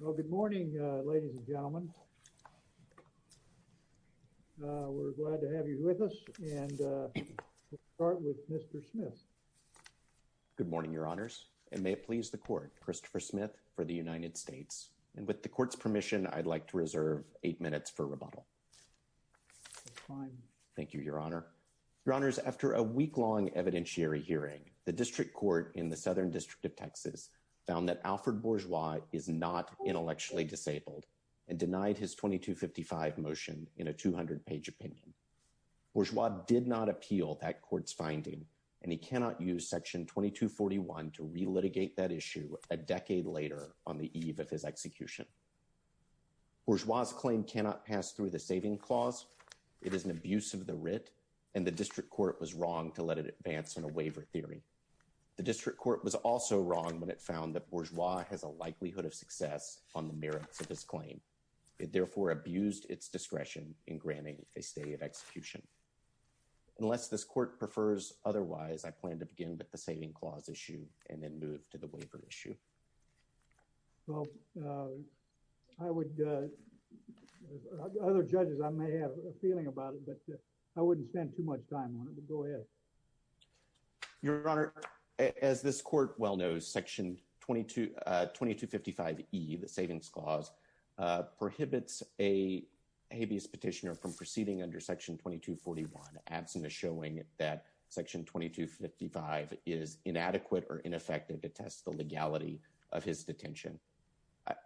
Well, good morning, ladies and gentlemen. We're glad to have you with us. And we'll start with Mr. Smith. Good morning, Your Honors. And may it please the Court, Christopher Smith for the United States. And with the Court's permission, I'd like to reserve eight minutes for rebuttal. Thank you, Your Honor. Your Honors, after a week-long evidentiary hearing, the District Court in the Southern District of Texas found that Alfred Bourgeois is not intellectually disabled and denied his 2255 motion in a 200-page opinion. Bourgeois did not appeal that court's finding, and he cannot use Section 2241 to relitigate that issue a decade later on the eve of his execution. Bourgeois' claim cannot pass through the Saving Clause. It is an abuse of the writ, and the District Court was wrong to let it advance on a waiver theory. The District Court was also wrong when it found that Bourgeois has a likelihood of success on the merits of his claim. It therefore abused its discretion in granting a stay of execution. Unless this Court prefers otherwise, I plan to begin with the Saving Clause issue and then move to the waiver issue. Well, I would, other judges, I may have a feeling about it, but I wouldn't spend too much time on it, but go ahead. Your Honor, as this Court well knows, Section 22, 2255E, the Savings Clause, prohibits a habeas petitioner from proceeding under Section 2241, absent of showing that Section 2255 is inadequate or ineffective to test the legality of his detention.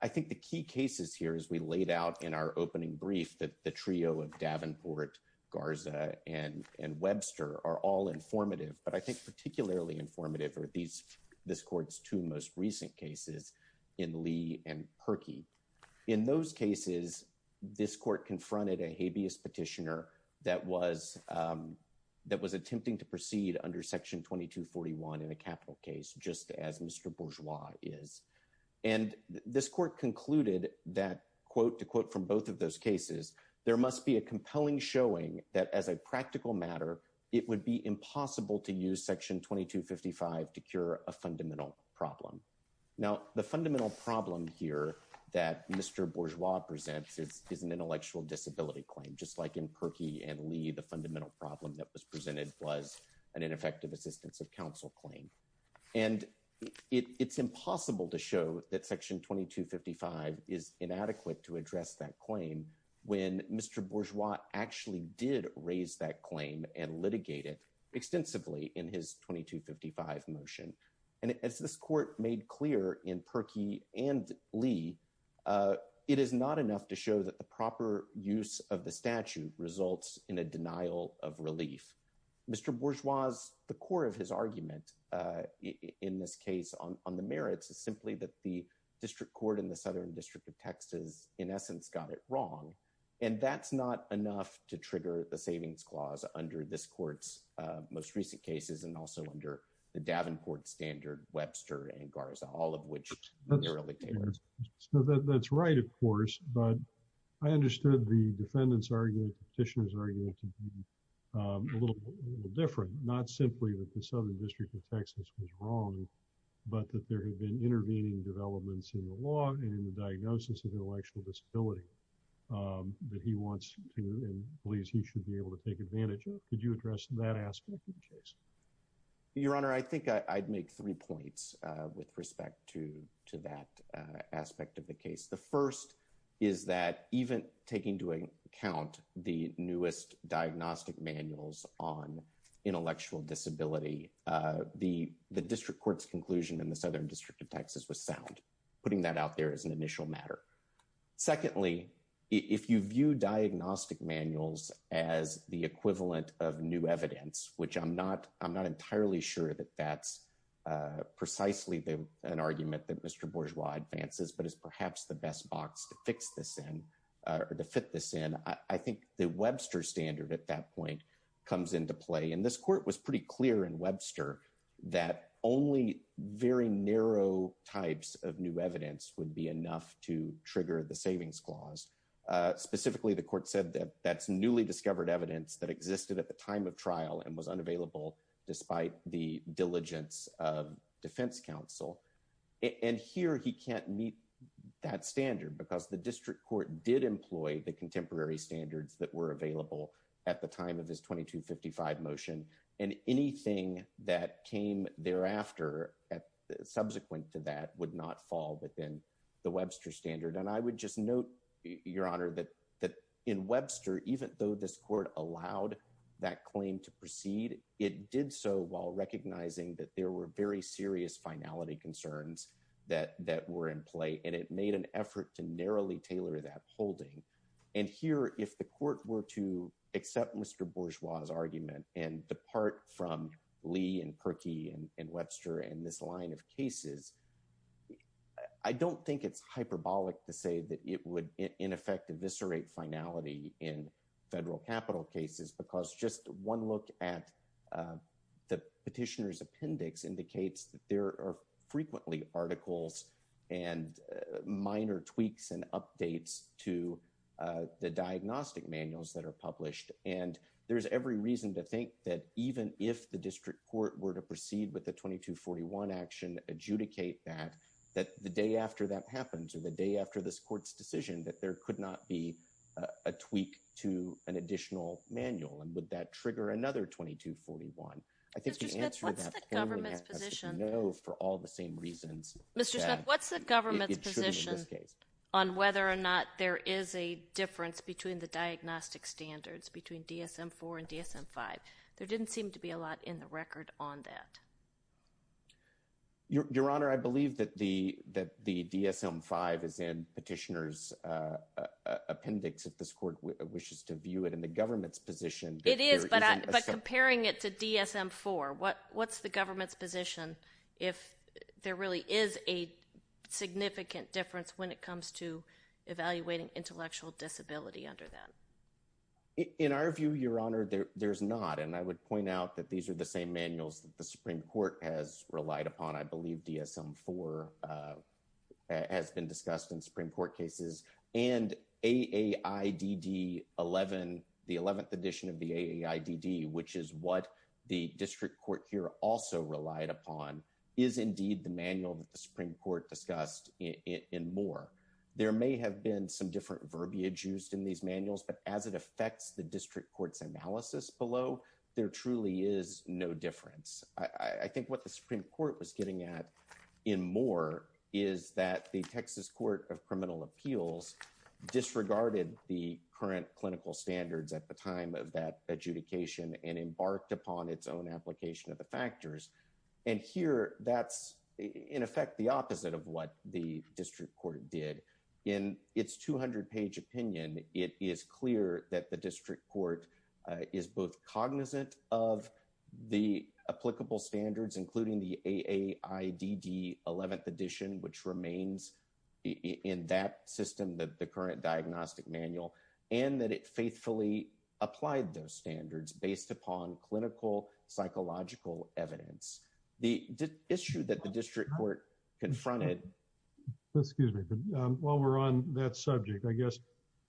I think the key cases here, as we laid out in our opening brief, that the trio of Davenport, Garza, and Webster are all informative, but I think particularly informative are these, this Court's two most recent cases in Lee and Perkey. In those cases, this Court confronted a habeas petitioner that was, that was attempting to proceed under Section 2241 in a capital case, just as Mr. Bourgeois is. And this Court concluded that, quote, to quote from both of those cases, there must be a compelling showing that as a practical matter, it would be impossible to use Section 2255 to cure a fundamental problem. Now, the fundamental problem here that Mr. Bourgeois presents is an intellectual disability claim, just like in Perkey and Lee, the fundamental problem that was presented was an ineffective assistance of counsel claim. And it's impossible to show that Section 2255 is inadequate to address that claim when Mr. Bourgeois actually did raise that claim and litigate it extensively in his 2255 motion. And as this Court made clear in Perkey and Lee, it is not enough to show that the proper use of the statute results in a denial of relief. Mr. Bourgeois, the core of his argument in this case on the merits is simply that the District Court in the Southern District of Texas, in essence, got it wrong. And that's not enough to trigger the savings clause under this Court's most recent cases, and also under the Davenport Standard, Webster, and Garza, all of which were litigators. That's right, of course. But I understood the defendant's argument, the petitioner's argument to be a little different, not simply that the Southern District of Texas was wrong, but that there had been intervening developments in the law and in the diagnosis of intellectual disability that he wants to and believes he should be able to take advantage of. Could you address that aspect of the case? Your Honor, I think I'd make three points with respect to that aspect of the case. The first is that even taking into account the newest diagnostic manuals on intellectual disability, the District Court's conclusion in the Southern District of Texas was sound. And putting that out there is an initial matter. Secondly, if you view diagnostic manuals as the equivalent of new evidence, which I'm not entirely sure that that's precisely an argument that Mr. Bourgeois advances, but is perhaps the best box to fix this in or to fit this in, I think the Webster Standard at that point comes into play. And this Court was pretty clear in Webster that only very narrow types of new evidence would be enough to trigger the savings clause. Specifically, the Court said that that's newly discovered evidence that existed at the time of trial and was unavailable despite the diligence of defense counsel. And here he can't meet that standard because the District Court did employ the contemporary standards that were fall within the Webster Standard. And I would just note, Your Honor, that in Webster, even though this Court allowed that claim to proceed, it did so while recognizing that there were very serious finality concerns that were in play. And it made an effort to narrowly tailor that holding. And here, if the Court were to accept Mr. Bourgeois' argument and depart from Lee and Perkey and Webster and this line of cases, I don't think it's hyperbolic to say that it would, in effect, eviscerate finality in federal capital cases because just one look at the petitioner's appendix indicates that there are frequently articles and minor tweaks and updates to the diagnostic manuals that are published. And there's every possibility that if the District Court were to proceed with the 2241 action, adjudicate that, that the day after that happens, or the day after this Court's decision, that there could not be a tweak to an additional manual. And would that trigger another 2241? I think the answer to that payment has to be no for all the same reasons that it should in this case. Mr. Smith, what's the government's position on whether or not there is a difference between the diagnostic standards, between DSM-IV and DSM-V? There didn't seem to be a lot in the record on that. Your Honor, I believe that the DSM-V is in petitioner's appendix, if this Court wishes to view it in the government's position. It is, but comparing it to DSM-IV, what's the government's position if there really is a significant difference when it comes to evaluating intellectual disability under that? In our view, Your Honor, there's not. And I would point out that these are the same manuals that the Supreme Court has relied upon. I believe DSM-IV has been discussed in Supreme Court cases. And AAIDD 11, the 11th edition of the AAIDD, which is what the Supreme Court discussed in Moore, there may have been some different verbiage used in these manuals, but as it affects the district court's analysis below, there truly is no difference. I think what the Supreme Court was getting at in Moore is that the Texas Court of Criminal Appeals disregarded the current clinical standards at the time of that adjudication and embarked on its own application of the factors. And here, that's, in effect, the opposite of what the district court did. In its 200-page opinion, it is clear that the district court is both cognizant of the applicable standards, including the AAIDD 11th edition, which remains in that system, the current diagnostic manual, and that it faithfully applied those standards based upon clinical psychological evidence. The issue that the district court confronted... Excuse me. While we're on that subject, I guess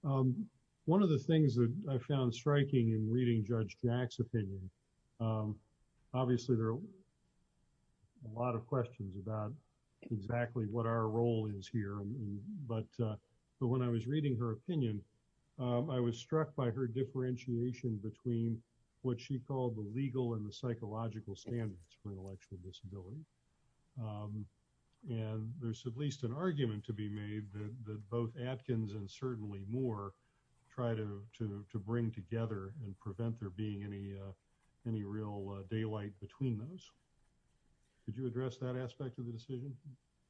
one of the things that I found striking in reading Judge Jack's opinion, obviously, there are a lot of questions about exactly what our role is here. But when I was reading her opinion, I was struck by her differentiation between what she called the legal and the psychological standards for intellectual disability. And there's at least an argument to be made that both Atkins and certainly Moore try to bring together and prevent there being any real daylight between those. Could you address that aspect of the decision?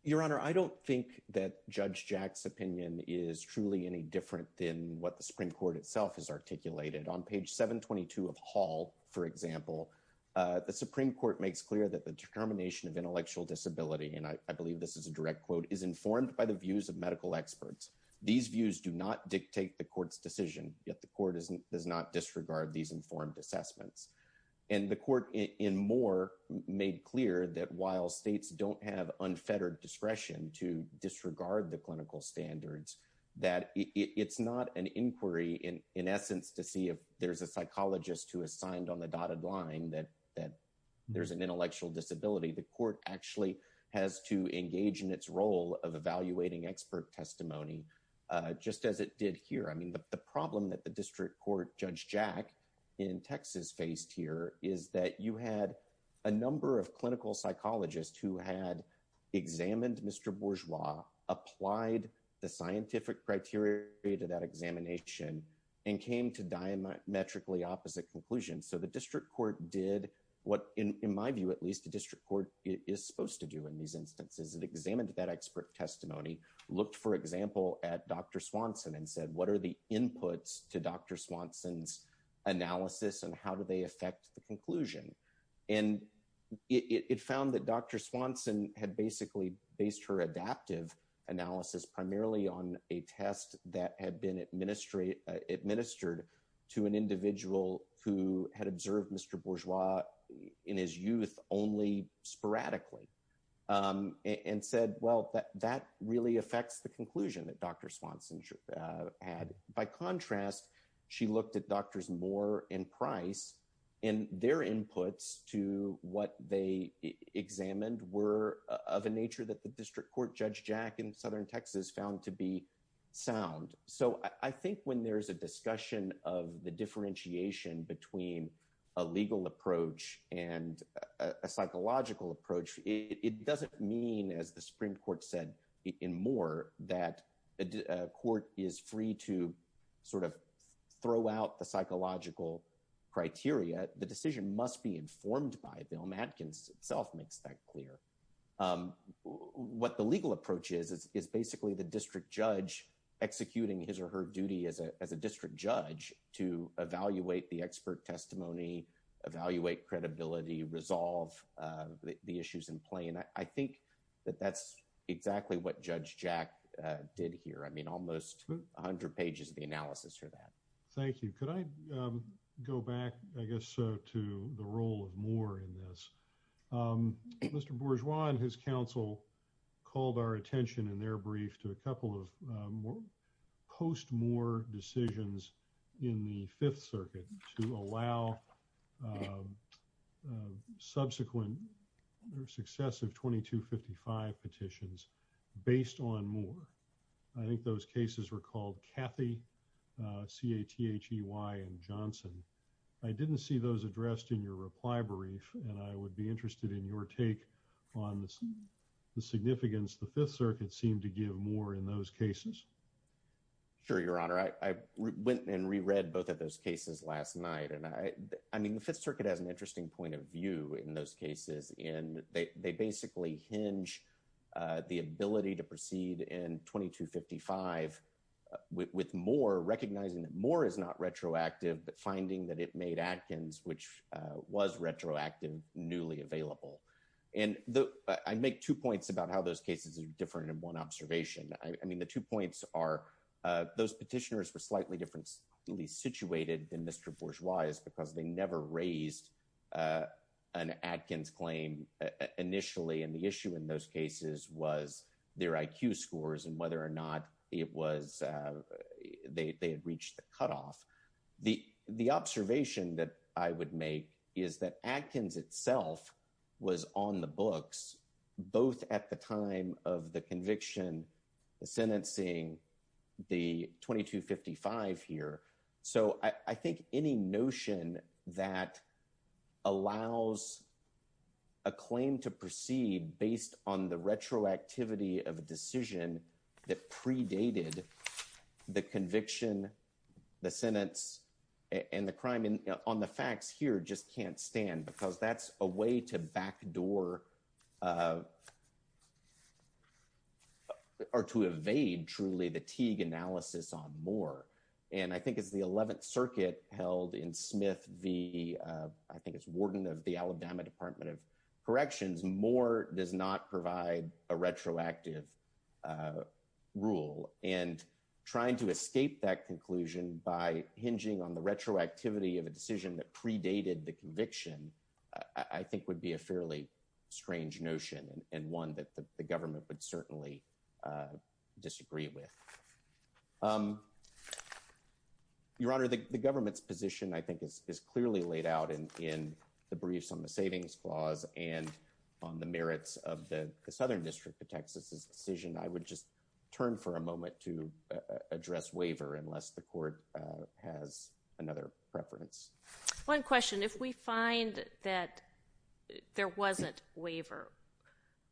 Your Honor, I don't think that Judge Jack's opinion is truly any different than what the Supreme Court's. In page 722 of Hall, for example, the Supreme Court makes clear that the determination of intellectual disability, and I believe this is a direct quote, is informed by the views of medical experts. These views do not dictate the court's decision, yet the court does not disregard these informed assessments. And the court in Moore made clear that while states don't have unfettered discretion to a psychologist who has signed on the dotted line that there's an intellectual disability, the court actually has to engage in its role of evaluating expert testimony, just as it did here. I mean, the problem that the district court, Judge Jack, in Texas faced here is that you had a number of clinical psychologists who had examined Mr. Bourgeois, applied the So the district court did what, in my view at least, the district court is supposed to do in these instances. It examined that expert testimony, looked, for example, at Dr. Swanson and said, what are the inputs to Dr. Swanson's analysis and how do they affect the conclusion? And it found that Dr. Swanson had basically based her adaptive analysis primarily on a study administered to an individual who had observed Mr. Bourgeois in his youth only sporadically and said, well, that really affects the conclusion that Dr. Swanson had. By contrast, she looked at Drs. Moore and Price and their inputs to what they examined were of a nature that the district court, Judge Jack, in southern Texas found to be So I think when there's a discussion of the differentiation between a legal approach and a psychological approach, it doesn't mean, as the Supreme Court said in Moore, that a court is free to sort of throw out the psychological criteria. The decision must be informed by Bill Matkins itself makes that clear. What the legal approach is, is basically the district judge executing his or her duty as a district judge to evaluate the expert testimony, evaluate credibility, resolve the issues in play. And I think that that's exactly what Judge Jack did here. I mean, almost 100 pages of the analysis for that. Thank you. Could I go back, I guess, to the role of Moore in this? Mr. Bourgeois and his counsel called our attention in their brief to a couple of post-Moore decisions in the Fifth Circuit to allow subsequent or successive 2255 petitions based on Moore. I think those cases were called Cathy, C-A-T-H-E-Y, and Johnson. I didn't see those addressed in your reply brief, and I would be interested in your take on the significance the Fifth Circuit seemed to give Moore in those cases. Sure, Your Honor. I went and reread both of those cases last night. And I mean, the Fifth Circuit has an interesting point of view in those cases. And they basically hinge the ability to proceed in 2255 with Moore, recognizing that Moore is not retroactive, but finding that it made Atkins, which was retroactive, newly available. And I make two points about how those cases are different in one observation. I mean, the two points are those petitioners were slightly differently situated than Mr. Bourgeois because they never raised an Atkins claim initially. And the issue in those cases was their IQ scores and whether or not they had reached the cutoff. The observation that I would make is that Atkins itself was on the books, both at the time of the conviction sentencing the 2255 here. So I think any notion that allows a claim to proceed based on the retroactivity of a decision that predated the conviction, the sentence and the crime on the facts here just can't stand because that's a way to backdoor or to evade truly the Teague analysis on Moore. And I think it's the 11th Circuit held in Smith v. I think it's warden of the Alabama Department of Corrections. Moore does not provide a retroactive rule. And trying to escape that conclusion by hinging on the retroactivity of a decision that predated the conviction, I think would be a fairly strange notion and one that the government would certainly disagree with. Your Honor, the government's position, I think, is clearly laid out in the briefs on the savings clause and on the merits of the Southern District of Texas's decision. I would just turn for a moment to address waiver unless the court has another preference. One question. If we find that there wasn't waiver,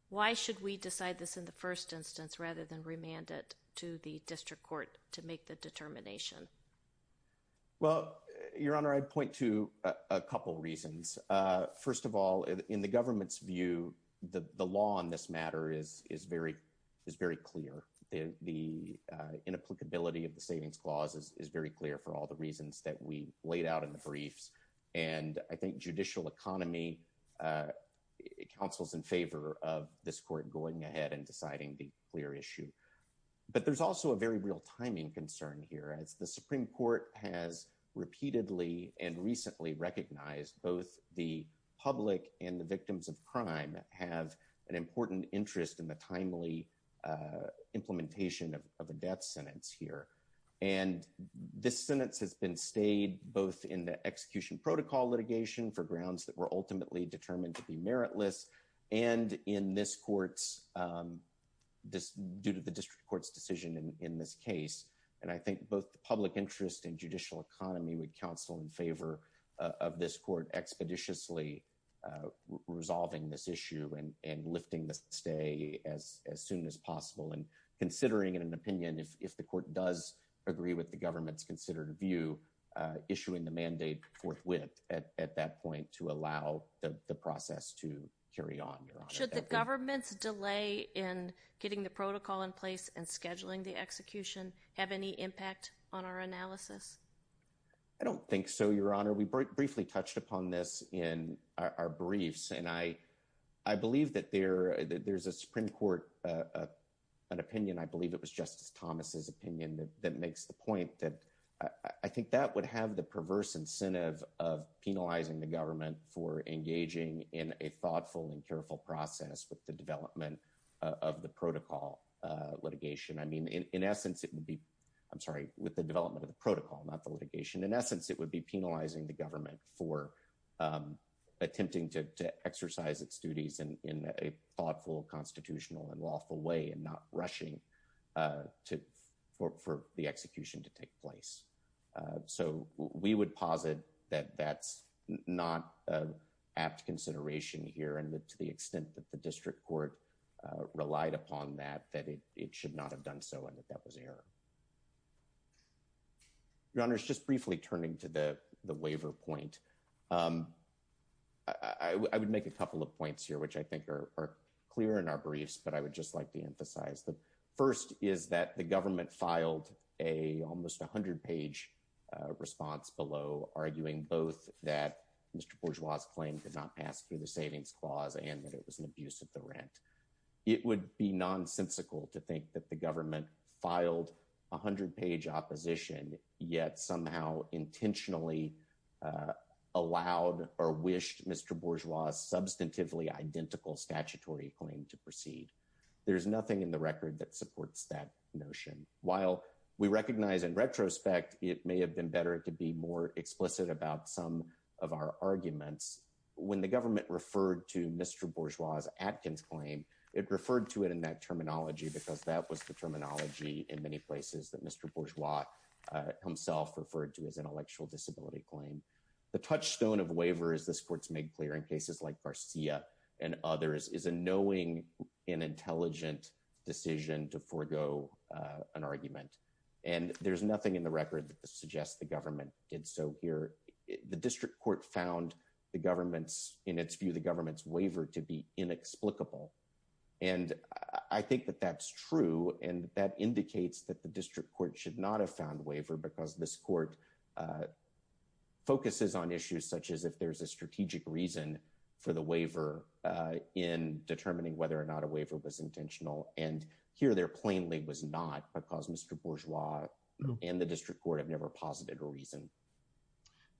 why should we decide this in the first instance rather than remand it to the district court to make the determination? Well, Your Honor, I'd point to a couple reasons. First of all, in the government's view, the law on this matter is very clear. The inapplicability of the savings clause is very clear for all the reasons that we laid out in the briefs. And I think judicial economy counsels in favor of this court going ahead and deciding the clear issue. But there's also a very real timing concern here. As the Supreme Court has repeatedly and recently recognized, both the public and the victims of crime have an important interest in the timely implementation of a death sentence here. And this sentence has been stayed both in the execution protocol litigation for grounds that were ultimately determined to be meritless and in this court's due to the district court's decision in this case. And I think both the public interest and judicial economy would counsel in favor of this court expeditiously resolving this issue and lifting the stay as soon as possible and considering in an opinion, if the court does agree with the government's considered view, issuing the mandate forthwith at that point to allow the process to carry on. Should the government's delay in getting the protocol in place and scheduling the execution have any impact on our analysis? I don't think so, Your Honor. We briefly touched upon this in our briefs. And I I believe that there there's a Supreme Court opinion. I believe it was Justice Thomas's opinion that makes the point that I think that would have the perverse incentive of penalizing the government for engaging in a thoughtful and careful process with the development of the protocol litigation. I mean, in essence, it would be I'm sorry, with the development of the protocol, not the litigation. In essence, it would be penalizing the government for attempting to exercise its duties in a thoughtful, constitutional and lawful way and not rushing to for the execution to take place. So we would posit that that's not an apt consideration here. And to the extent that the district court relied upon that, that it it should not have done so. And if that was error. Your Honor is just briefly turning to the the waiver point. I would make a couple of points here, which I think are clear in our briefs. But I would just like to emphasize the first is that the government filed a almost 100 page response below, arguing both that Mr. Bourgeois's claim did not pass through the savings clause and that it was an abuse of the rent. It would be nonsensical to think that the government filed 100 page opposition, yet somehow intentionally allowed or wished Mr. Bourgeois's substantively identical statutory claim to proceed. There is nothing in the record that supports that notion. While we recognize in retrospect, it may have been better to be more explicit about some of our arguments. When the government referred to Mr. Bourgeois's Atkins claim, it referred to it in that terminology, because that was the terminology in many places that Mr. Bourgeois himself referred to as intellectual disability claim. The touchstone of waiver, as this court's made clear in cases like Garcia and others, is a knowing and intelligent decision to forego an argument. And there's nothing in the record that suggests the government did so here. The district court found the government's in its view, the government's waiver to be inexplicable. And I think that that's true and that indicates that the district court should not have found waiver because this court focuses on issues such as if there's a strategic reason for the waiver in determining whether or not a waiver was intentional. And here there plainly was not because Mr. Bourgeois and the district court have never posited a reason.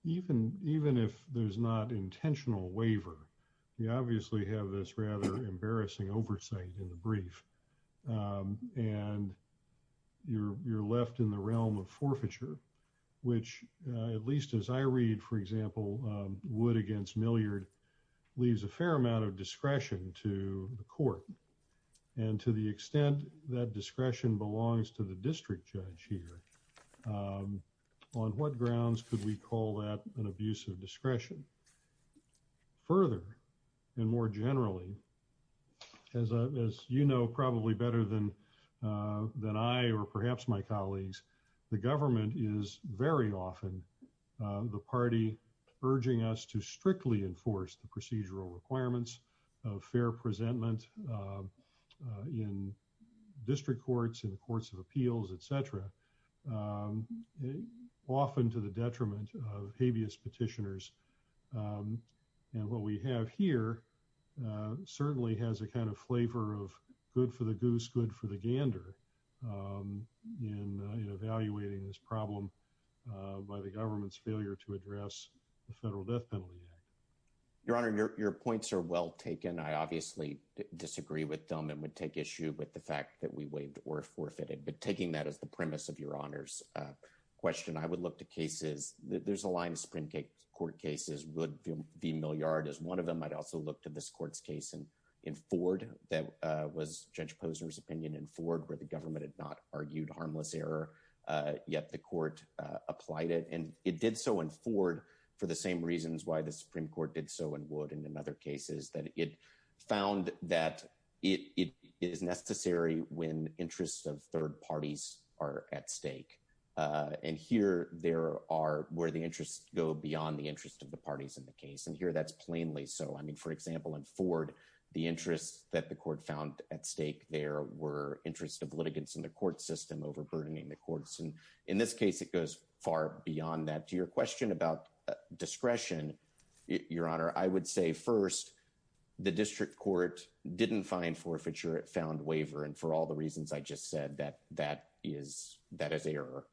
Even if there's not intentional waiver, you obviously have this rather embarrassing oversight in the brief. And you're left in the realm of forfeiture, which at least as I read, for example, Wood against Milliard leaves a fair amount of discretion to the court. And to the extent that discretion belongs to the district judge here, on what grounds could we call that an abuse of discretion? Further and more generally, as you know, probably better than than I or perhaps my colleagues, the government is very often the party urging us to strictly enforce the procedural requirements of fair presentment in district courts, in the courts of appeals, et cetera, often to the detriment of habeas petitioners. And what we have here certainly has a kind of flavor of good for the goose, good for the gander, in evaluating this problem by the government's failure to address the Federal Death Penalty Act. Your Honor, your points are well taken. I obviously disagree with them and would take issue with the fact that we waived or forfeited. But taking that as the premise of Your Honor's question, I would look to cases. There's a line of Supreme Court cases. Wood v. Milliard is one of them. I'd also look to this court's case in Ford that was Judge Posner's opinion in Ford, where the government had not argued harmless error, yet the court applied it. And it did so in Ford for the same reasons why the Supreme Court did so in Wood and in other cases, that it found that it is necessary when interests of third parties are at stake. And here there are where the interests go beyond the interest of the parties in the case. And here that's plainly so. I mean, for example, in Ford, the interests that the court found at stake there were interest of litigants in the court system overburdening the courts. And in this case, it goes far beyond that. To your question about discretion, Your Honor, I would say, first, the district court didn't find forfeiture. It found waiver. And for all the reasons I just said, that is error.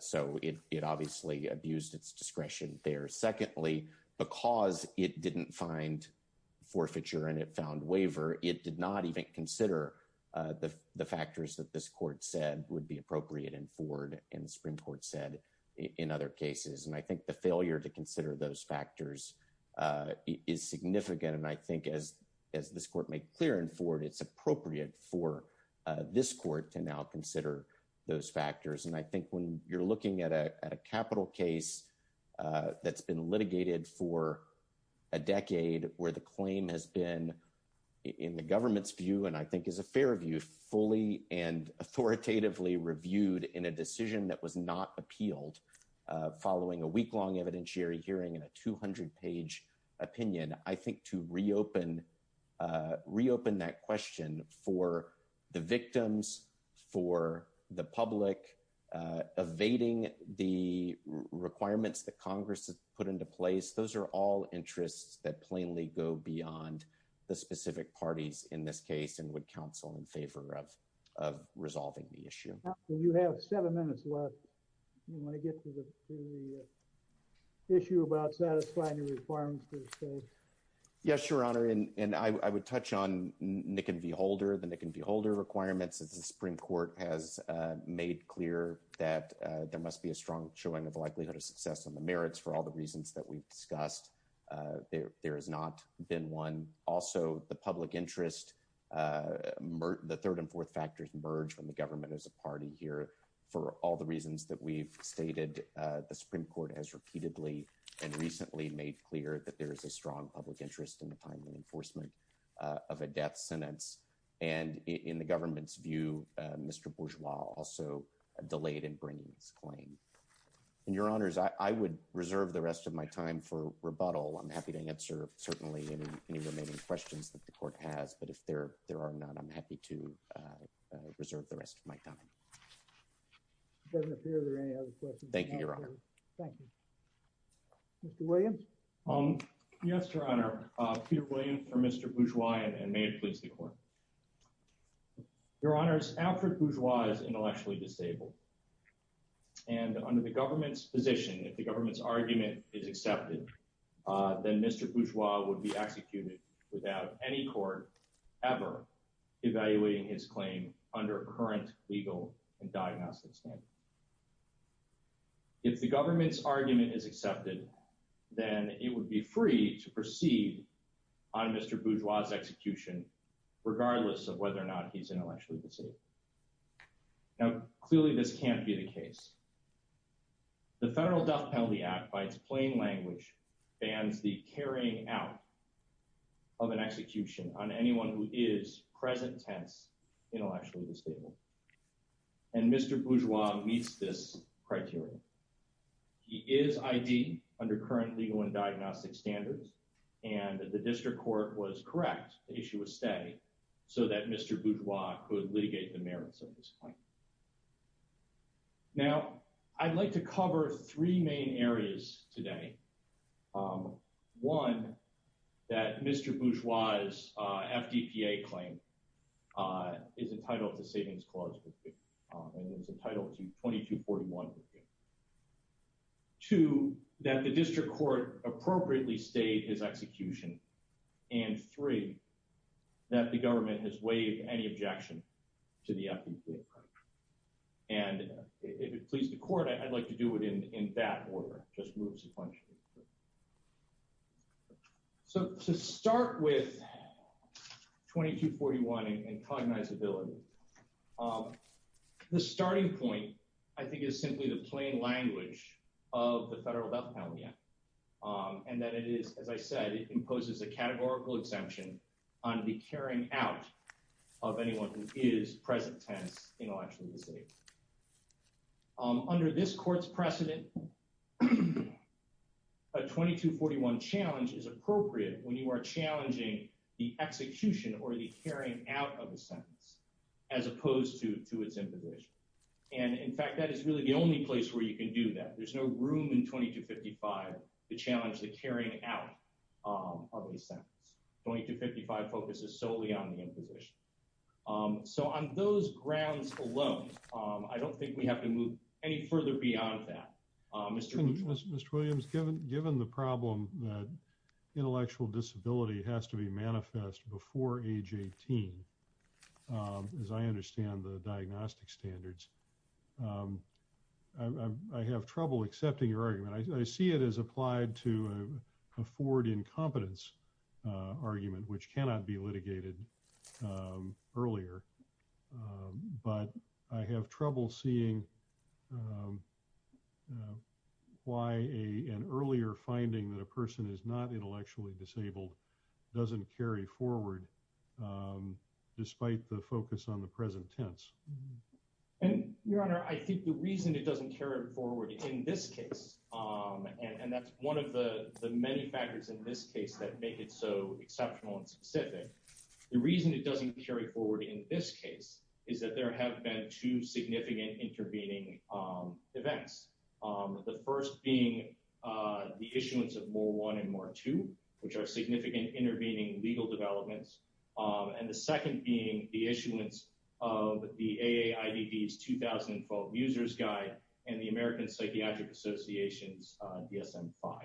So it obviously abused its discretion there. Secondly, because it didn't find forfeiture and it found waiver, it did not even consider the factors that this court said would be appropriate in Ford and the Supreme Court said in other cases. And I think the failure to consider those factors is significant. And I think as this court made clear in Ford, it's appropriate for this court to now consider those factors. And I think when you're looking at a capital case that's been litigated for a decade where the claim has been in the government's view, and I think is a fair view, fully and authoritatively reviewed in a decision that was not appealed following a week long evidentiary hearing and a 200 page opinion. I think to reopen that question for the victims, for the public, evading the requirements that Congress has put into place, those are all interests that plainly go beyond the specific parties in this case and would counsel in favor of resolving the issue. You have seven minutes left. You want to get to the issue about satisfying the requirements for the case? Yes, Your Honor. And I would touch on Nick and V. Holder, the Nick and V. Holder requirements. The Supreme Court has made clear that there must be a strong showing of likelihood of success on the merits for all the reasons that we've discussed. There has not been one. Also, the public interest, the third and fourth factors merge from the government as a party here for all the reasons that we've stated. The Supreme Court has repeatedly and recently made clear that there is a strong public interest in the time and enforcement of a death sentence. And in the government's view, Mr. Bourgeois also delayed in bringing his claim. And, Your Honors, I would reserve the rest of my time for rebuttal. I'm happy to answer, certainly, any remaining questions that the court has. But if there are none, I'm happy to reserve the rest of my time. It doesn't appear there are any other questions. Thank you, Your Honor. Thank you. Mr. Williams? Yes, Your Honor. Peter Williams for Mr. Bourgeois, and may it please the Court. Your Honors, Alfred Bourgeois is intellectually disabled. And under the government's position, if the government's argument is accepted, then Mr. Bourgeois would be executed without any court ever evaluating his claim under current legal and diagnostic standards. If the government's argument is accepted, then it would be free to proceed on Mr. Bourgeois' execution, regardless of whether or not he's intellectually disabled. Now, clearly this can't be the case. The Federal Death Penalty Act, by its plain language, bans the carrying out of an execution on anyone who is, present tense, intellectually disabled. And Mr. Bourgeois meets this criteria. He is ID, under current legal and diagnostic standards. And the district court was correct. The issue was stay, so that Mr. Bourgeois could litigate the merits of his claim. Now, I'd like to cover three main areas today. One, that Mr. Bourgeois' FDPA claim is entitled to Savings Clause 50, and is entitled to 2241-50. Two, that the district court appropriately stayed his execution. And three, that the government has waived any objection to the FDPA claim. And if it pleases the court, I'd like to do it in that order. It just moves a bunch. So, to start with 2241 and cognizability, the starting point, I think, is simply the plain language of the Federal Death Penalty Act. And that it is, as I said, it imposes a categorical exemption on the carrying out of anyone who is, present tense, intellectually disabled. Under this court's precedent, a 2241 challenge is appropriate when you are challenging the execution or the carrying out of a sentence, as opposed to its imposition. And, in fact, that is really the only place where you can do that. There's no room in 2255 to challenge the carrying out of a sentence. 2255 focuses solely on the imposition. So, on those grounds alone, I don't think we have to move any further beyond that. Mr. Williams, given the problem that intellectual disability has to be manifest before age 18, as I understand the diagnostic standards, I have trouble accepting your argument. I see it as applied to a forward incompetence argument, which cannot be litigated earlier. But I have trouble seeing why an earlier finding that a person is not intellectually disabled doesn't carry forward, despite the focus on the present tense. Your Honor, I think the reason it doesn't carry forward in this case, and that's one of the many factors in this case that make it so exceptional and specific. The reason it doesn't carry forward in this case is that there have been two significant intervening events. The first being the issuance of More 1 and More 2, which are significant intervening legal developments. And the second being the issuance of the AAIDD's 2012 User's Guide and the American Psychiatric Association's DSM-5.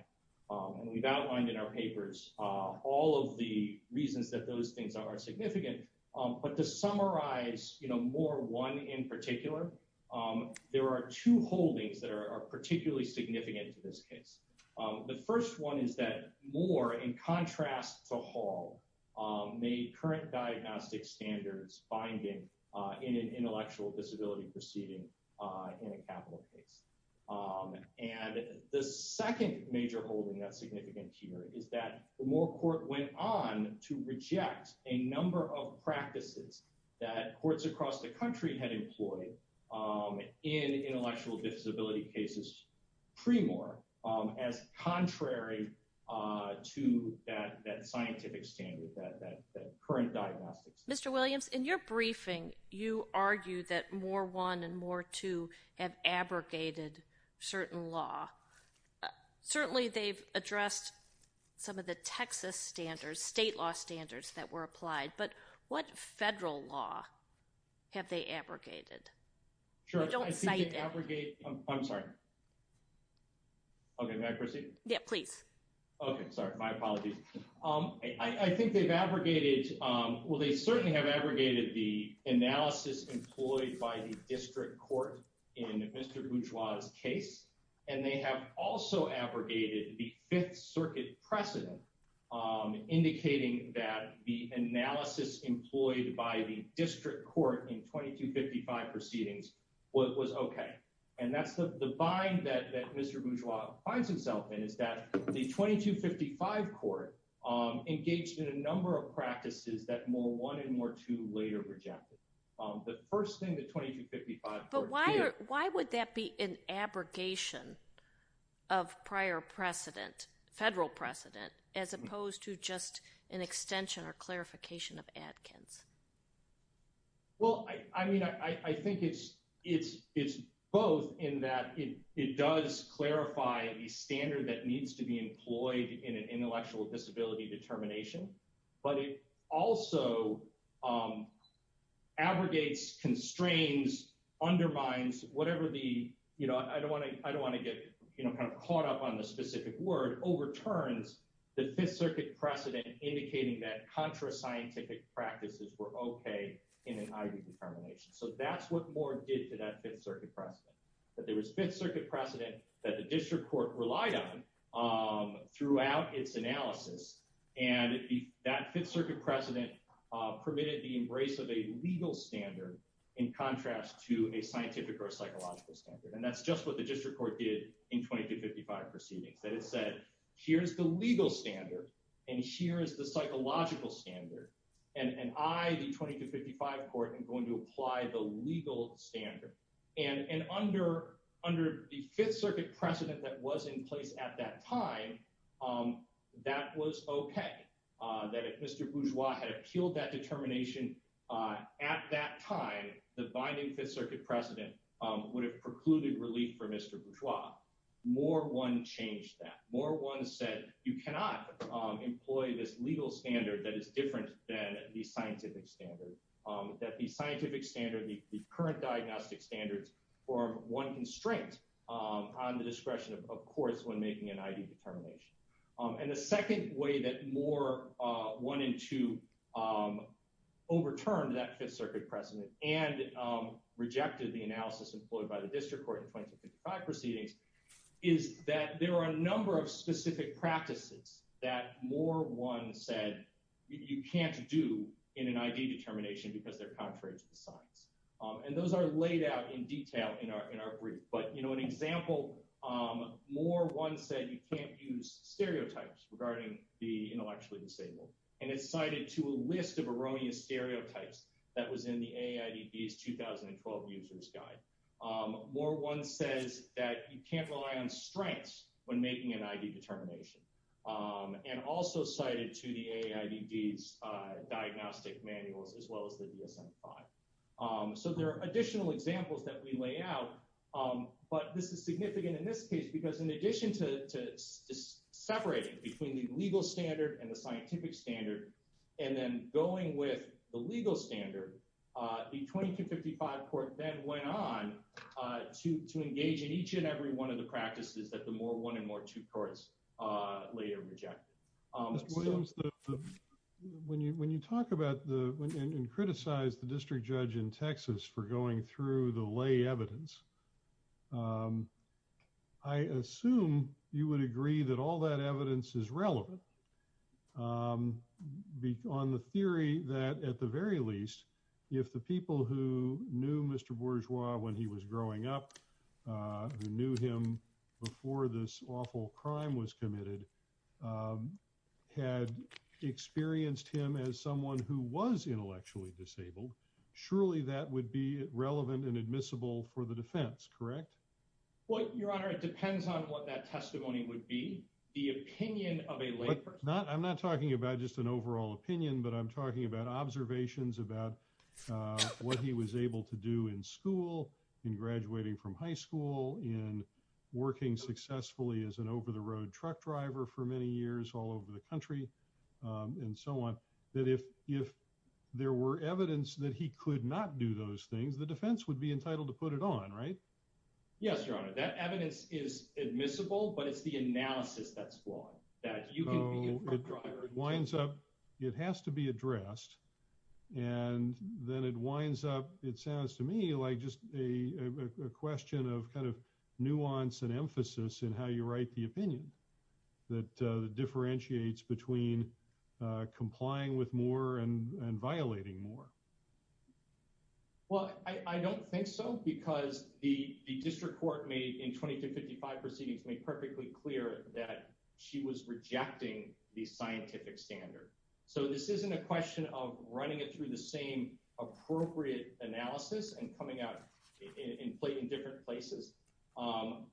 And we've outlined in our papers all of the reasons that those things are significant. But to summarize More 1 in particular, there are two holdings that are particularly significant to this case. The first one is that More, in contrast to Hall, made current diagnostic standards binding in an intellectual disability proceeding in a capital case. And the second major holding that's significant here is that the Moore Court went on to reject a number of practices that courts across the country had employed in intellectual disability cases pre-Moore as contrary to that scientific standard, that current diagnostics. Mr. Williams, in your briefing, you argued that More 1 and More 2 have abrogated certain law. Certainly, they've addressed some of the Texas standards, state law standards that were applied, but what federal law have they abrogated? I don't cite it. I'm sorry. Okay, may I proceed? Yeah, please. Okay, sorry. My apologies. I think they've abrogated, well, they certainly have abrogated the analysis employed by the district court in Mr. Bourgeois' case. And they have also abrogated the Fifth Circuit precedent, indicating that the analysis employed by the district court in 2255 proceedings was okay. And that's the bind that Mr. Bourgeois finds himself in, is that the 2255 court engaged in a number of practices that More 1 and More 2 later rejected. The first thing that 2255 court did- But why would that be an abrogation of prior precedent, federal precedent, as opposed to just an extension or clarification of Adkins? Well, I mean, I think it's both in that it does clarify the standard that needs to be employed in an intellectual disability determination. But it also abrogates, constrains, undermines, whatever the- I don't want to get caught up on the specific word- overturns the Fifth Circuit precedent, indicating that contra-scientific practices were okay in an IV determination. So that's what More did to that Fifth Circuit precedent, that there was Fifth Circuit precedent that the district court relied on throughout its analysis. And that Fifth Circuit precedent permitted the embrace of a legal standard in contrast to a scientific or psychological standard. And that's just what the district court did in 2255 proceedings. That it said, here's the legal standard, and here is the psychological standard, and I, the 2255 court, am going to apply the legal standard. And under the Fifth Circuit precedent that was in place at that time, that was okay. That if Mr. Bourgeois had appealed that determination at that time, the binding Fifth Circuit precedent would have precluded relief for Mr. Bourgeois. More I changed that. More I said, you cannot employ this legal standard that is different than the scientific standard. That the scientific standard, the current diagnostic standards, form one constraint on the discretion of courts when making an ID determination. And the second way that More wanted to overturn that Fifth Circuit precedent and rejected the analysis employed by the district court in 2255 proceedings, is that there are a number of specific practices that More 1 said you can't do in an ID determination because they're contrary to the science. And those are laid out in detail in our brief. But, you know, an example, More 1 said you can't use stereotypes regarding the intellectually disabled. And it's cited to a list of erroneous stereotypes that was in the AIDB's 2012 User's Guide. More 1 says that you can't rely on strengths when making an ID determination. And also cited to the AIDB's diagnostic manuals, as well as the DSM-5. So there are additional examples that we lay out. But this is significant in this case because in addition to separating between the legal standard and the scientific standard, and then going with the legal standard, the 2255 court then went on to engage in each and every one of the practices that the More 1 and More 2 courts later rejected. Mr. Williams, when you talk about and criticize the district judge in Texas for going through the lay evidence, I assume you would agree that all that evidence is relevant on the theory that, at the very least, if the people who knew Mr. Bourgeois when he was growing up, who knew him before this awful crime was committed, had experienced him as someone who was intellectually disabled, surely that would be relevant and admissible for the defense, correct? Well, Your Honor, it depends on what that testimony would be. The opinion of a lay person. I'm not talking about just an overall opinion, but I'm talking about observations about what he was able to do in school, in graduating from high school, in working successfully as an over-the-road truck driver for many years all over the country, and so on. That if there were evidence that he could not do those things, the defense would be entitled to put it on, right? Yes, Your Honor. That evidence is admissible, but it's the analysis that's flawed. So it winds up, it has to be addressed, and then it winds up, it sounds to me, like just a question of kind of nuance and emphasis in how you write the opinion that differentiates between complying with more and violating more. Well, I don't think so, because the district court in the 20-55 proceedings made perfectly clear that she was rejecting the scientific standard. So this isn't a question of running it through the same appropriate analysis and coming out in different places,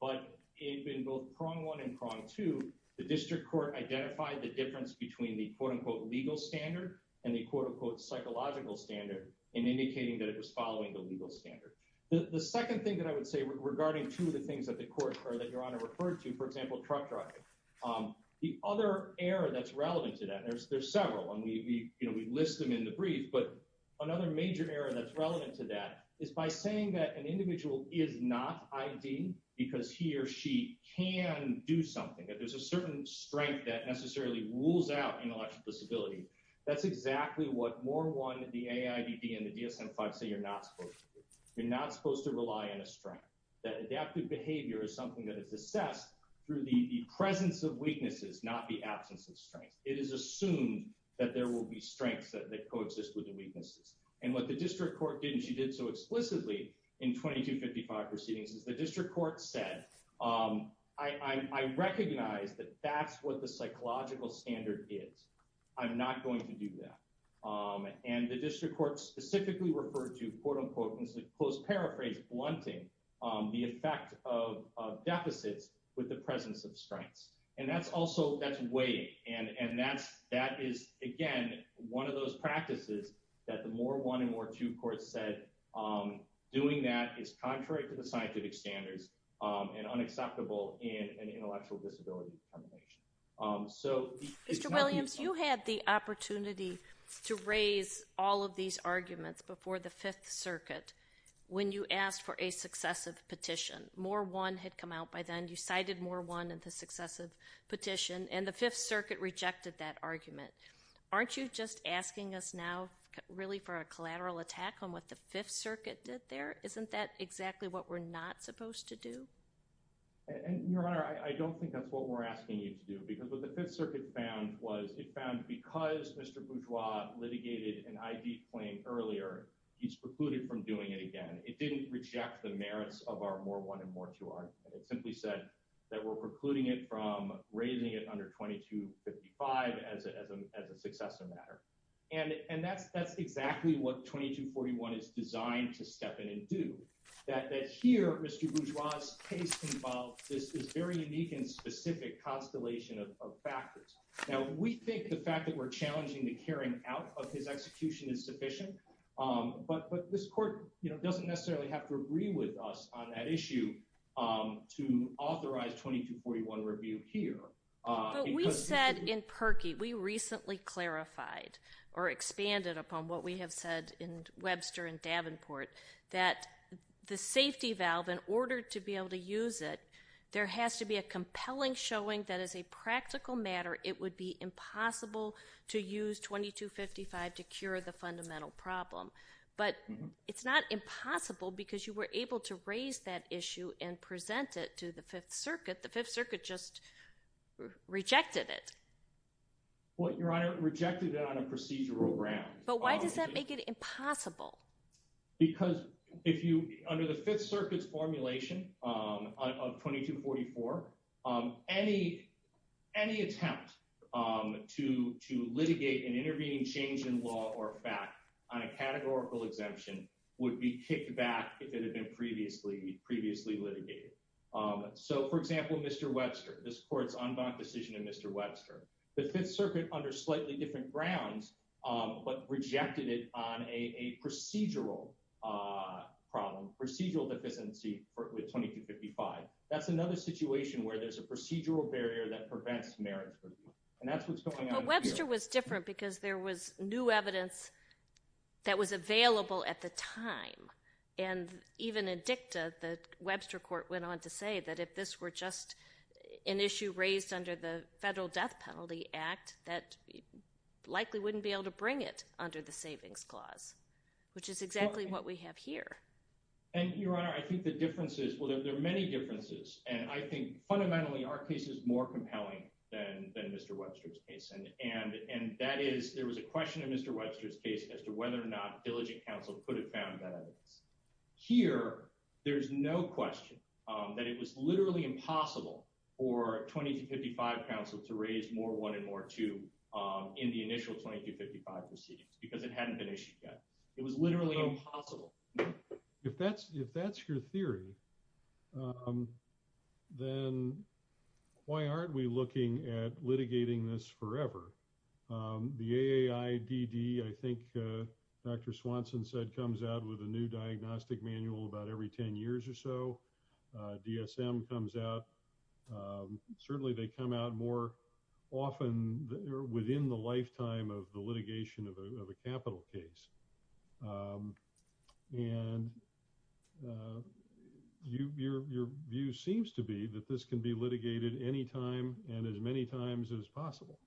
but in both prong one and prong two, the district court identified the difference between the quote-unquote legal standard and the quote-unquote psychological standard in indicating that it was following the legal standard. The second thing that I would say regarding two of the things that Your Honor referred to, for example, truck driving, the other error that's relevant to that, and there's several, and we list them in the brief, but another major error that's relevant to that is by saying that an individual is not ID because he or she can do something, that there's a certain strength that necessarily rules out intellectual disability. That's exactly what more one, the AIDD, and the DSM-5 say you're not supposed to do. You're not supposed to rely on a strength. That adaptive behavior is something that is assessed through the presence of weaknesses, not the absence of strength. It is assumed that there will be strengths that co-exist with the weaknesses, and what the district court did, and she did so explicitly in 2255 proceedings, is the district court said, I recognize that that's what the psychological standard is. I'm not going to do that, and the district court specifically referred to quote-unquote, and this is a close paraphrase, blunting the effect of deficits with the presence of strengths, and that's also, that's weight, and that is, again, one of those practices that the more one and more two courts said doing that is contrary to the scientific standards and unacceptable in an intellectual disability determination. Mr. Williams, you had the opportunity to raise all of these arguments before the Fifth Circuit when you asked for a successive petition. More one had come out by then. You cited more one in the successive petition, and the Fifth Circuit rejected that argument. Aren't you just asking us now really for a collateral attack on what the Fifth Circuit did there? Isn't that exactly what we're not supposed to do? And, Your Honor, I don't think that's what we're asking you to do because what the Fifth Circuit found was it found because Mr. Bourgeois litigated an ID claim earlier, he's precluded from doing it again. It didn't reject the merits of our more one and more two argument. It simply said that we're precluding it from raising it under 2255 as a successor matter, and that's exactly what 2241 is designed to step in and do, that here Mr. Bourgeois' case involves this very unique and specific constellation of factors. Now, we think the fact that we're challenging the carrying out of his execution is sufficient, but this court doesn't necessarily have to agree with us on that issue to authorize 2241 review here. But we said in Perkey, we recently clarified or expanded upon what we have said in Webster and Davenport that the safety valve, in order to be able to use it, there has to be a compelling showing that as a practical matter, it would be impossible to use 2255 to cure the fundamental problem. But it's not impossible because you were able to raise that issue and present it to the Fifth Circuit. The Fifth Circuit just rejected it. Well, Your Honor, it rejected it on a procedural ground. But why does that make it impossible? Because if you, under the Fifth Circuit's formulation of 2244, any attempt to litigate an intervening change in law or fact on a categorical exemption would be kicked back if it had been previously litigated. So, for example, Mr. Webster, this court's en banc decision in Mr. Webster, the Fifth Circuit, under slightly different grounds, but rejected it on a procedural problem, procedural deficiency with 2255. That's another situation where there's a procedural barrier that prevents marriage review. And that's what's going on here. But Webster was different because there was new evidence that was available at the time. And even in dicta, the Webster court went on to say that if this were just an issue raised under the Federal Death Penalty Act, that likely wouldn't be able to bring it under the Savings Clause, which is exactly what we have here. And, Your Honor, I think the difference is, well, there are many differences. And I think fundamentally our case is more compelling than Mr. Webster's case. And that is, there was a question in Mr. Webster's case as to whether or not diligent counsel could have found that evidence. Here, there's no question that it was literally impossible for 2255 counsel to raise more 1 and more 2 in the initial 2255 proceedings because it hadn't been issued yet. It was literally impossible. If that's if that's your theory, then why aren't we looking at litigating this forever? The AAIDD, I think Dr. Swanson said, comes out with a new diagnostic manual about every 10 years or so. DSM comes out. Certainly they come out more often within the lifetime of the litigation of a capital case. And your view seems to be that this can be litigated any time and as many times as possible.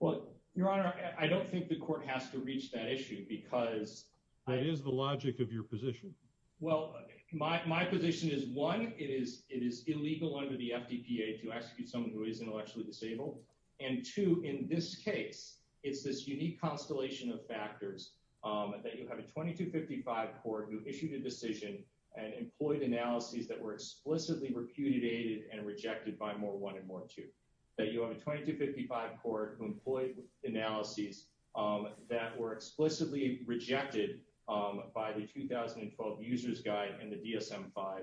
Well, Your Honor, I don't think the court has to reach that issue because. That is the logic of your position. Well, my position is, one, it is it is illegal under the FDPA to execute someone who is intellectually disabled. And two, in this case, it's this unique constellation of factors that you have a 2255 court who issued a decision and employed analyses that were explicitly repudiated and rejected by more 1 and more 2. That you have a 2255 court who employed analyses that were explicitly rejected by the 2012 user's guide and the DSM-5,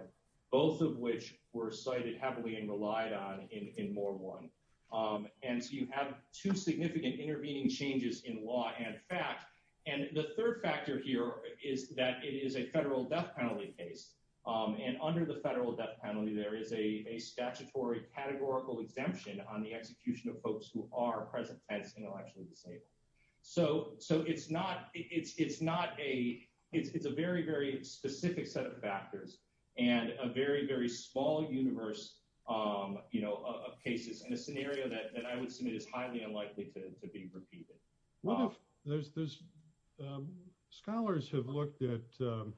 both of which were cited heavily and relied on in more 1. And so you have two significant intervening changes in law and fact. And the third factor here is that it is a federal death penalty case. And under the federal death penalty, there is a statutory categorical exemption on the execution of folks who are present tense intellectually disabled. So it's not a it's a very, very specific set of factors and a very, very small universe of cases and a scenario that I would submit is highly unlikely to be repeated. Scholars have looked at the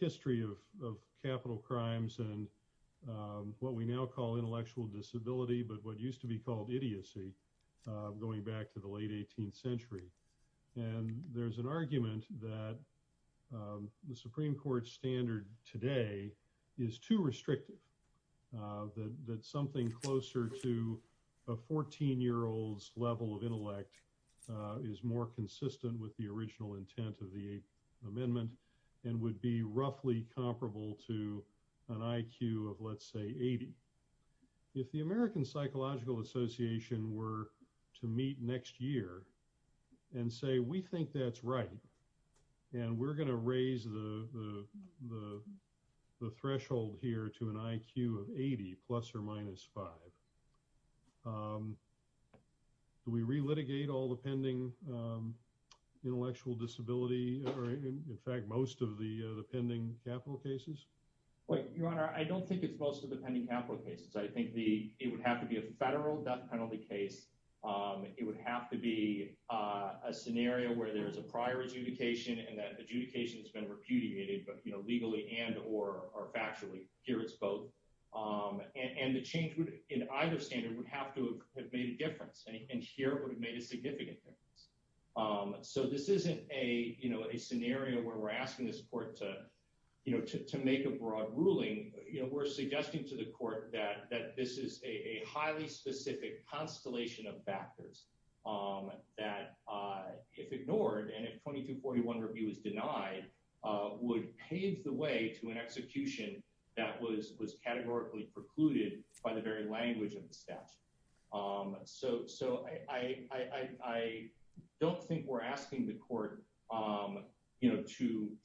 history of capital crimes and what we now call intellectual disability, but what used to be called idiocy, going back to the late 18th century. And there's an argument that the Supreme Court standard today is too restrictive, that something closer to a 14-year-old's level of intellect is more consistent with the original intent of the amendment and would be roughly comparable to an IQ of, let's say, 80. If the American Psychological Association were to meet next year and say, we think that's right, and we're going to raise the threshold here to an IQ of 80, plus or minus 5, do we re-litigate all the pending intellectual disability, or in fact, most of the pending capital cases? Your Honor, I don't think it's most of the pending capital cases. I think it would have to be a federal death penalty case. It would have to be a scenario where there is a prior adjudication and that adjudication has been repudiated, legally and or factually. And the change in either standard would have to have made a difference, and here it would have made a significant difference. So this isn't a scenario where we're asking this court to make a broad ruling. We're suggesting to the court that this is a highly specific constellation of factors that, if ignored and if 2241 review is denied, would pave the way to an execution that was categorically precluded by the very language of the statute. So I don't think we're asking the court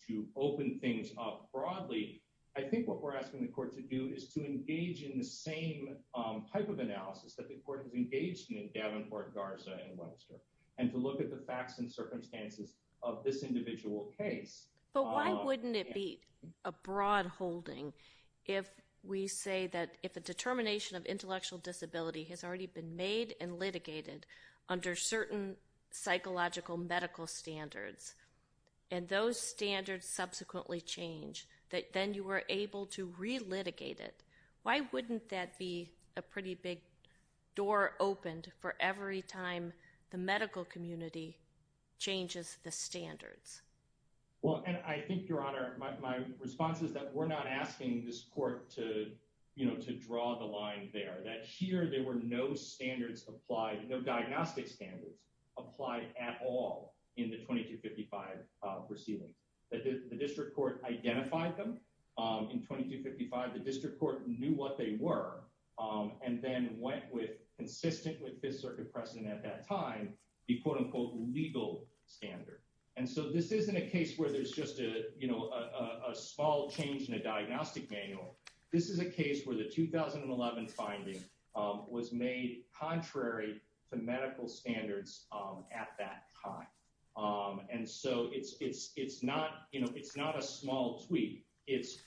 to open things up broadly. I think what we're asking the court to do is to engage in the same type of analysis that the court has engaged in in Davenport, Garza, and Webster, and to look at the facts and circumstances of this individual case. But why wouldn't it be a broad holding if we say that if a determination of intellectual disability has already been made and litigated under certain psychological medical standards, and those standards subsequently change, that then you are able to relitigate it? Why wouldn't that be a pretty big door opened for every time the medical community changes the standards? Well, and I think, Your Honor, my response is that we're not asking this court to draw the line there, that here there were no standards applied, no diagnostic standards applied at all in the 2255 proceedings. The district court identified them in 2255. The district court knew what they were and then went with, consistent with Fifth Circuit precedent at that time, the quote-unquote legal standard. And so this isn't a case where there's just a small change in a diagnostic manual. This is a case where the 2011 finding was made contrary to medical standards at that time. And so it's not a small tweak. It's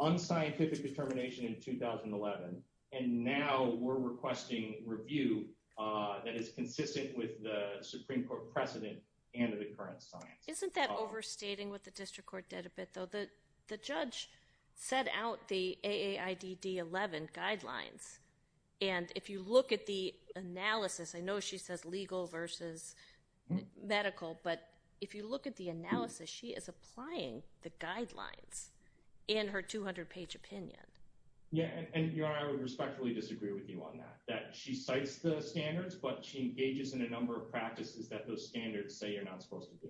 unscientific determination in 2011, and now we're requesting review that is consistent with the Supreme Court precedent and the current science. Isn't that overstating what the district court did a bit, though? The judge set out the AAIDD-11 guidelines, and if you look at the analysis, I know she says legal versus medical, but if you look at the analysis, she is applying the guidelines in her 200-page opinion. Yeah, and Your Honor, I would respectfully disagree with you on that, that she cites the standards, but she engages in a number of practices that those standards say you're not supposed to do.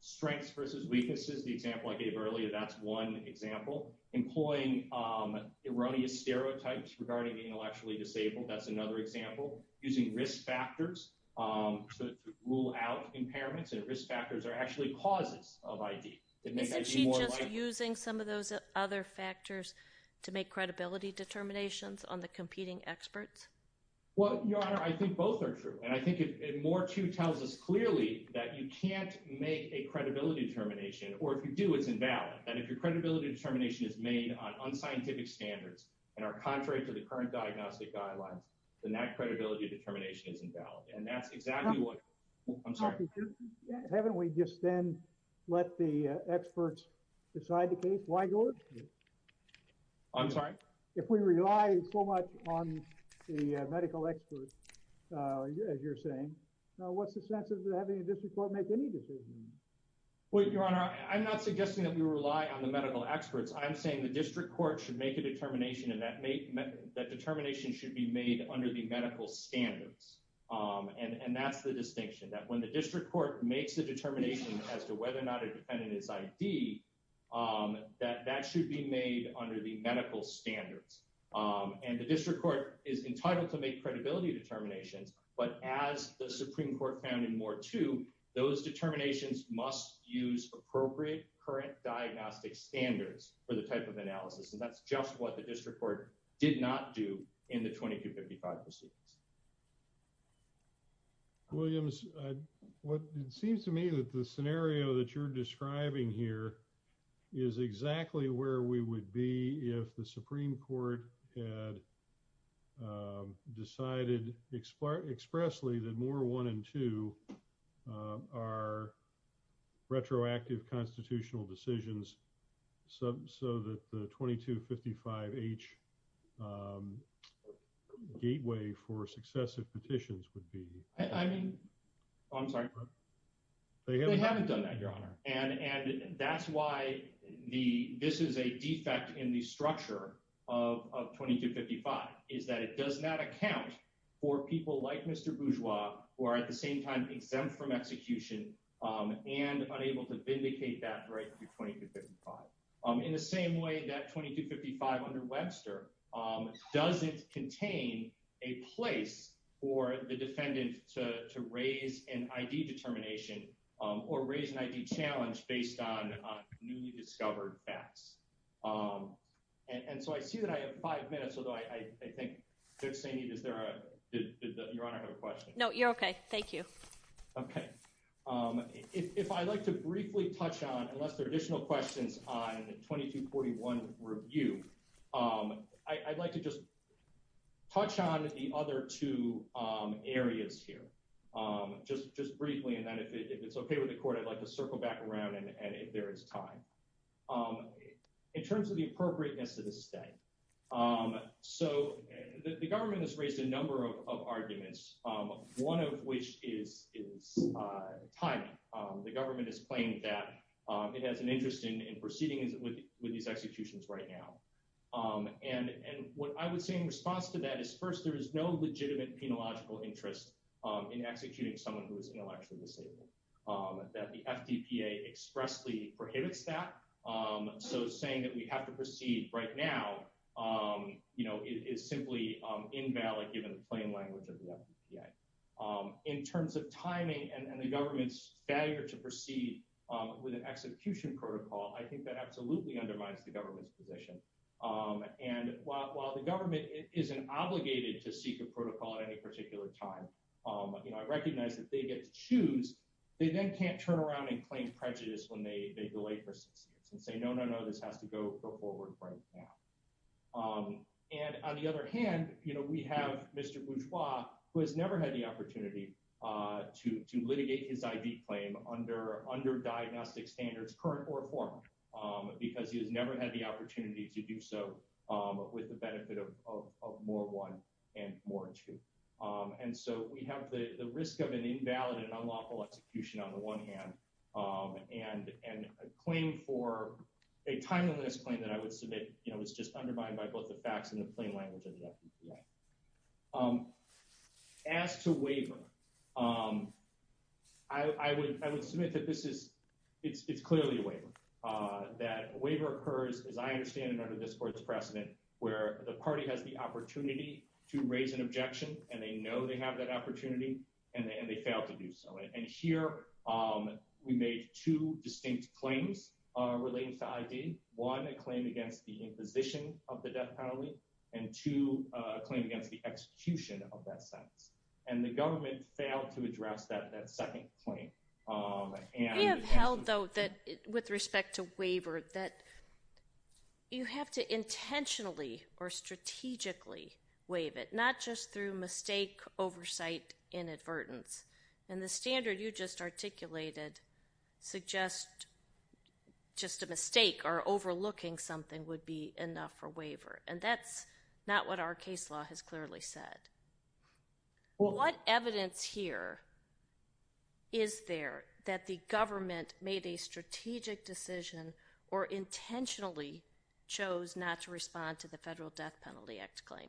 Strengths versus weaknesses, the example I gave earlier, that's one example. Employing erroneous stereotypes regarding the intellectually disabled, that's another example. Using risk factors to rule out impairments, and risk factors are actually causes of ID. Isn't she just using some of those other factors to make credibility determinations on the competing experts? Well, Your Honor, I think both are true, and I think it more too tells us clearly that you can't make a credibility determination, or if you do, it's invalid, that if your credibility determination is made on unscientific standards and are contrary to the current diagnostic guidelines, then that credibility determination is invalid, and that's exactly what— I'm sorry. Haven't we just then let the experts decide the case? Why do it? I'm sorry? If we rely so much on the medical experts, as you're saying, what's the sense of having a district court make any decisions? Well, Your Honor, I'm not suggesting that we rely on the medical experts. I'm saying the district court should make a determination, and that determination should be made under the medical standards. And that's the distinction, that when the district court makes the determination as to whether or not a defendant is ID, that that should be made under the medical standards. And the district court is entitled to make credibility determinations, but as the Supreme Court found in Moore II, those determinations must use appropriate current diagnostic standards for the type of analysis, and that's just what the district court did not do in the 2255 proceedings. Williams, it seems to me that the scenario that you're describing here is exactly where we would be if the Supreme Court had decided expressly that Moore I and II are retroactive constitutional decisions, so that the 2255-H gateway for successive petitions would be... I mean, I'm sorry? They haven't done that, Your Honor. And that's why this is a defect in the structure of 2255, is that it does not account for people like Mr. Bourgeois, who are at the same time exempt from execution and unable to vindicate that right through 2255. In the same way that 2255 under Webster doesn't contain a place for the defendant to raise an ID determination or raise an ID challenge based on newly discovered facts. And so I see that I have five minutes, although I think, Judge Saini, did Your Honor have a question? No, you're okay. Thank you. Okay. If I'd like to briefly touch on, unless there are additional questions on the 2241 review, I'd like to just touch on the other two areas here. Just briefly, and then if it's okay with the Court, I'd like to circle back around, and if there is time. In terms of the appropriateness of the state, so the government has raised a number of arguments, one of which is timing. The government has claimed that it has an interest in proceeding with these executions right now. And what I would say in response to that is, first, there is no legitimate penological interest in executing someone who is intellectually disabled. That the FDPA expressly prohibits that, so saying that we have to proceed right now, you know, is simply invalid given the plain language of the FDPA. In terms of timing and the government's failure to proceed with an execution protocol, I think that absolutely undermines the government's position. And while the government isn't obligated to seek a protocol at any particular time, you know, I recognize that they get to choose. They then can't turn around and claim prejudice when they delay for six years and say, no, no, no, this has to go forward right now. And on the other hand, you know, we have Mr. Bourgeois, who has never had the opportunity to litigate his ID claim under diagnostic standards, current or reformed, because he has never had the opportunity to do so with the benefit of more one and more two. And so we have the risk of an invalid and unlawful execution on the one hand, and a claim for a timeliness claim that I would submit, you know, is just undermined by both the facts and the plain language of the FDPA. As to waiver, I would submit that this is, it's clearly a waiver. That waiver occurs, as I understand it, under this court's precedent, where the party has the opportunity to raise an objection, and they know they have that opportunity, and they fail to do so. And here we made two distinct claims relating to ID. One, a claim against the imposition of the death penalty, and two, a claim against the execution of that sentence. And the government failed to address that second claim. We have held, though, that with respect to waiver, that you have to intentionally or strategically waive it, not just through mistake, oversight, inadvertence. And the standard you just articulated suggests just a mistake or overlooking something would be enough for waiver, and that's not what our case law has clearly said. What evidence here is there that the government made a strategic decision or intentionally chose not to respond to the Federal Death Penalty Act claim?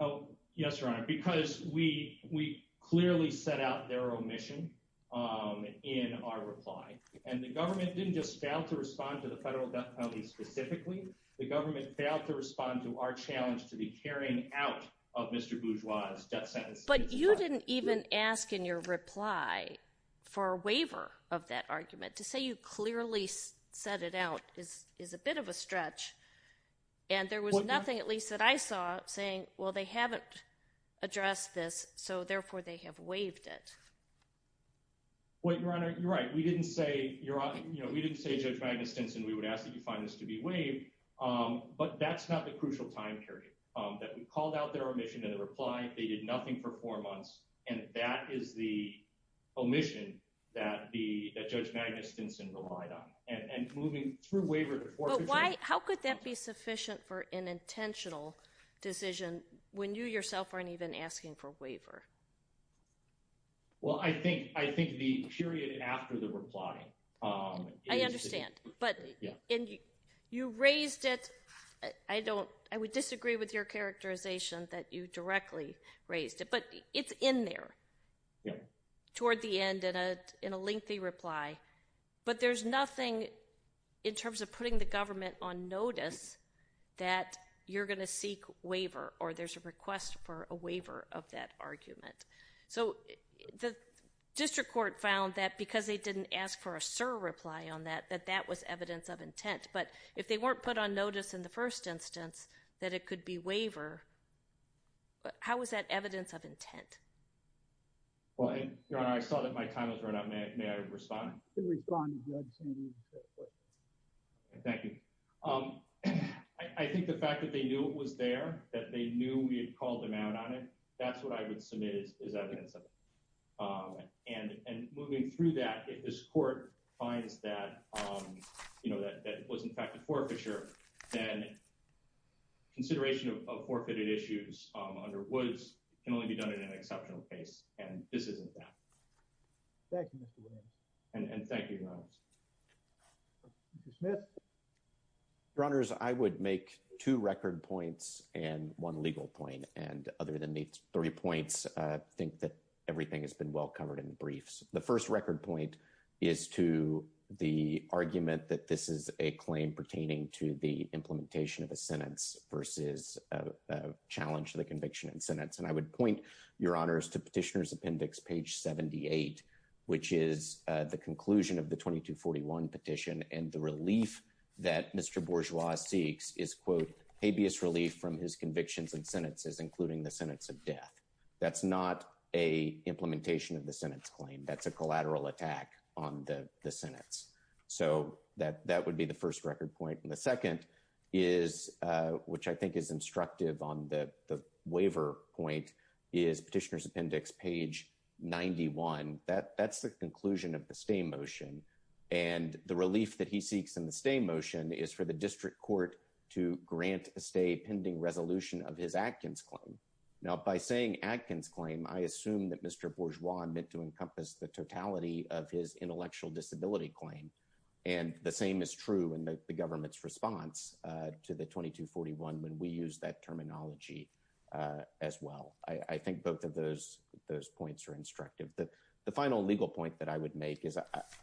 Oh, yes, Your Honor, because we clearly set out their omission in our reply, and the government didn't just fail to respond to the Federal Death Penalty specifically. The government failed to respond to our challenge to the carrying out of Mr. Bourgeois' death sentence. But you didn't even ask in your reply for a waiver of that argument. To say you clearly set it out is a bit of a stretch, and there was nothing, at least that I saw, saying, well, they haven't addressed this, so therefore they have waived it. Well, Your Honor, you're right. We didn't say, you know, we didn't say, Judge Magnus Stinson, we would ask that you find this to be waived, but that's not the crucial time period. That we called out their omission in the reply, they did nothing for four months, and that is the omission that Judge Magnus Stinson relied on. And moving through waiver to forfeiture— But why—how could that be sufficient for an intentional decision when you yourself aren't even asking for waiver? Well, I think the period after the reply— I understand, but you raised it—I don't—I would disagree with your characterization that you directly raised it, but it's in there toward the end in a lengthy reply. But there's nothing in terms of putting the government on notice that you're going to seek waiver, or there's a request for a waiver of that argument. So the district court found that because they didn't ask for a surreply on that, that that was evidence of intent. But if they weren't put on notice in the first instance that it could be waiver, how is that evidence of intent? Well, Your Honor, I saw that my time has run out. May I respond? You can respond, Judge Stinson. Thank you. I think the fact that they knew it was there, that they knew we had called them out on it, that's what I would submit as evidence of it. And moving through that, if this court finds that it was, in fact, a forfeiture, then consideration of forfeited issues under Woods can only be done in an exceptional case, and this isn't that. Thank you, Mr. Williams. And thank you, Your Honor. Mr. Smith? Your Honors, I would make two record points and one legal point. And other than the three points, I think that everything has been well covered in the briefs. The first record point is to the argument that this is a claim pertaining to the implementation of a sentence versus a challenge to the conviction and sentence. And I would point, Your Honors, to Petitioner's Appendix, page 78, which is the conclusion of the 2241 petition. And the relief that Mr. Bourgeois seeks is, quote, habeas relief from his convictions and sentences, including the sentence of death. That's not a implementation of the sentence claim. That's a collateral attack on the sentence. So that would be the first record point. And the second is, which I think is instructive on the waiver point, is Petitioner's Appendix, page 91. That's the conclusion of the stay motion. And the relief that he seeks in the stay motion is for the district court to grant a stay pending resolution of his Atkins claim. Now, by saying Atkins claim, I assume that Mr. Bourgeois meant to encompass the totality of his intellectual disability claim. And the same is true in the government's response to the 2241 when we use that terminology as well. I think both of those points are instructive. The final legal point that I would make is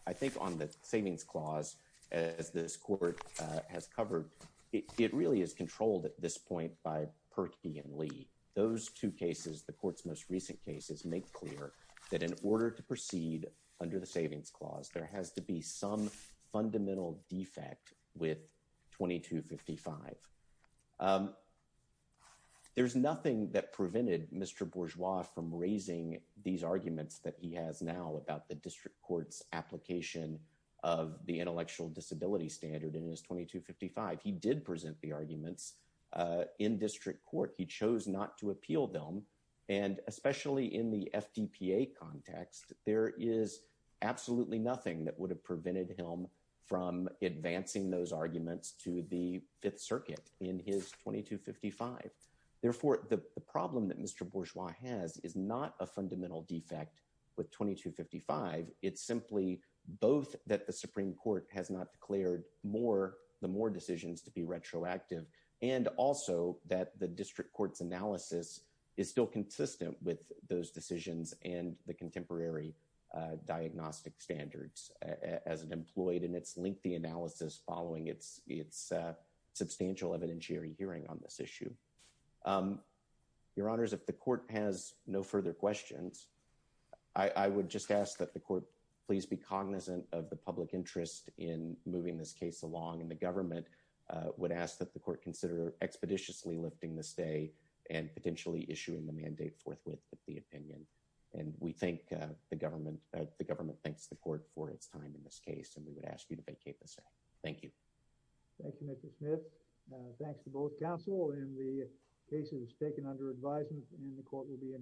I think on the savings clause, as this court has covered, it really is controlled at this point by Perkey and Lee. Those two cases, the court's most recent cases, make clear that in order to proceed under the savings clause, there has to be some fundamental defect with 2255. There's nothing that prevented Mr. Bourgeois from raising these arguments that he has now about the district court's application of the intellectual disability standard in his 2255. He did present the arguments in district court. He chose not to appeal them. And especially in the FDPA context, there is absolutely nothing that would have prevented him from advancing those arguments to the Fifth Circuit in his 2255. Therefore, the problem that Mr. Bourgeois has is not a fundamental defect with 2255. It's simply both that the Supreme Court has not declared the more decisions to be retroactive and also that the district court's analysis is still consistent with those decisions and the contemporary diagnostic standards as it employed in its lengthy analysis following its substantial evidentiary hearing on this issue. Your Honors, if the court has no further questions, I would just ask that the court please be cognizant of the public interest in moving this case along. And the government would ask that the court consider expeditiously lifting this day and potentially issuing the mandate forthwith with the opinion. And we thank the government. The government thanks the court for its time in this case. And we would ask you to vacate this day. Thank you. Thank you, Mr. Smith. Thanks to both counsel. And the case is taken under advisement and the court will be in recess.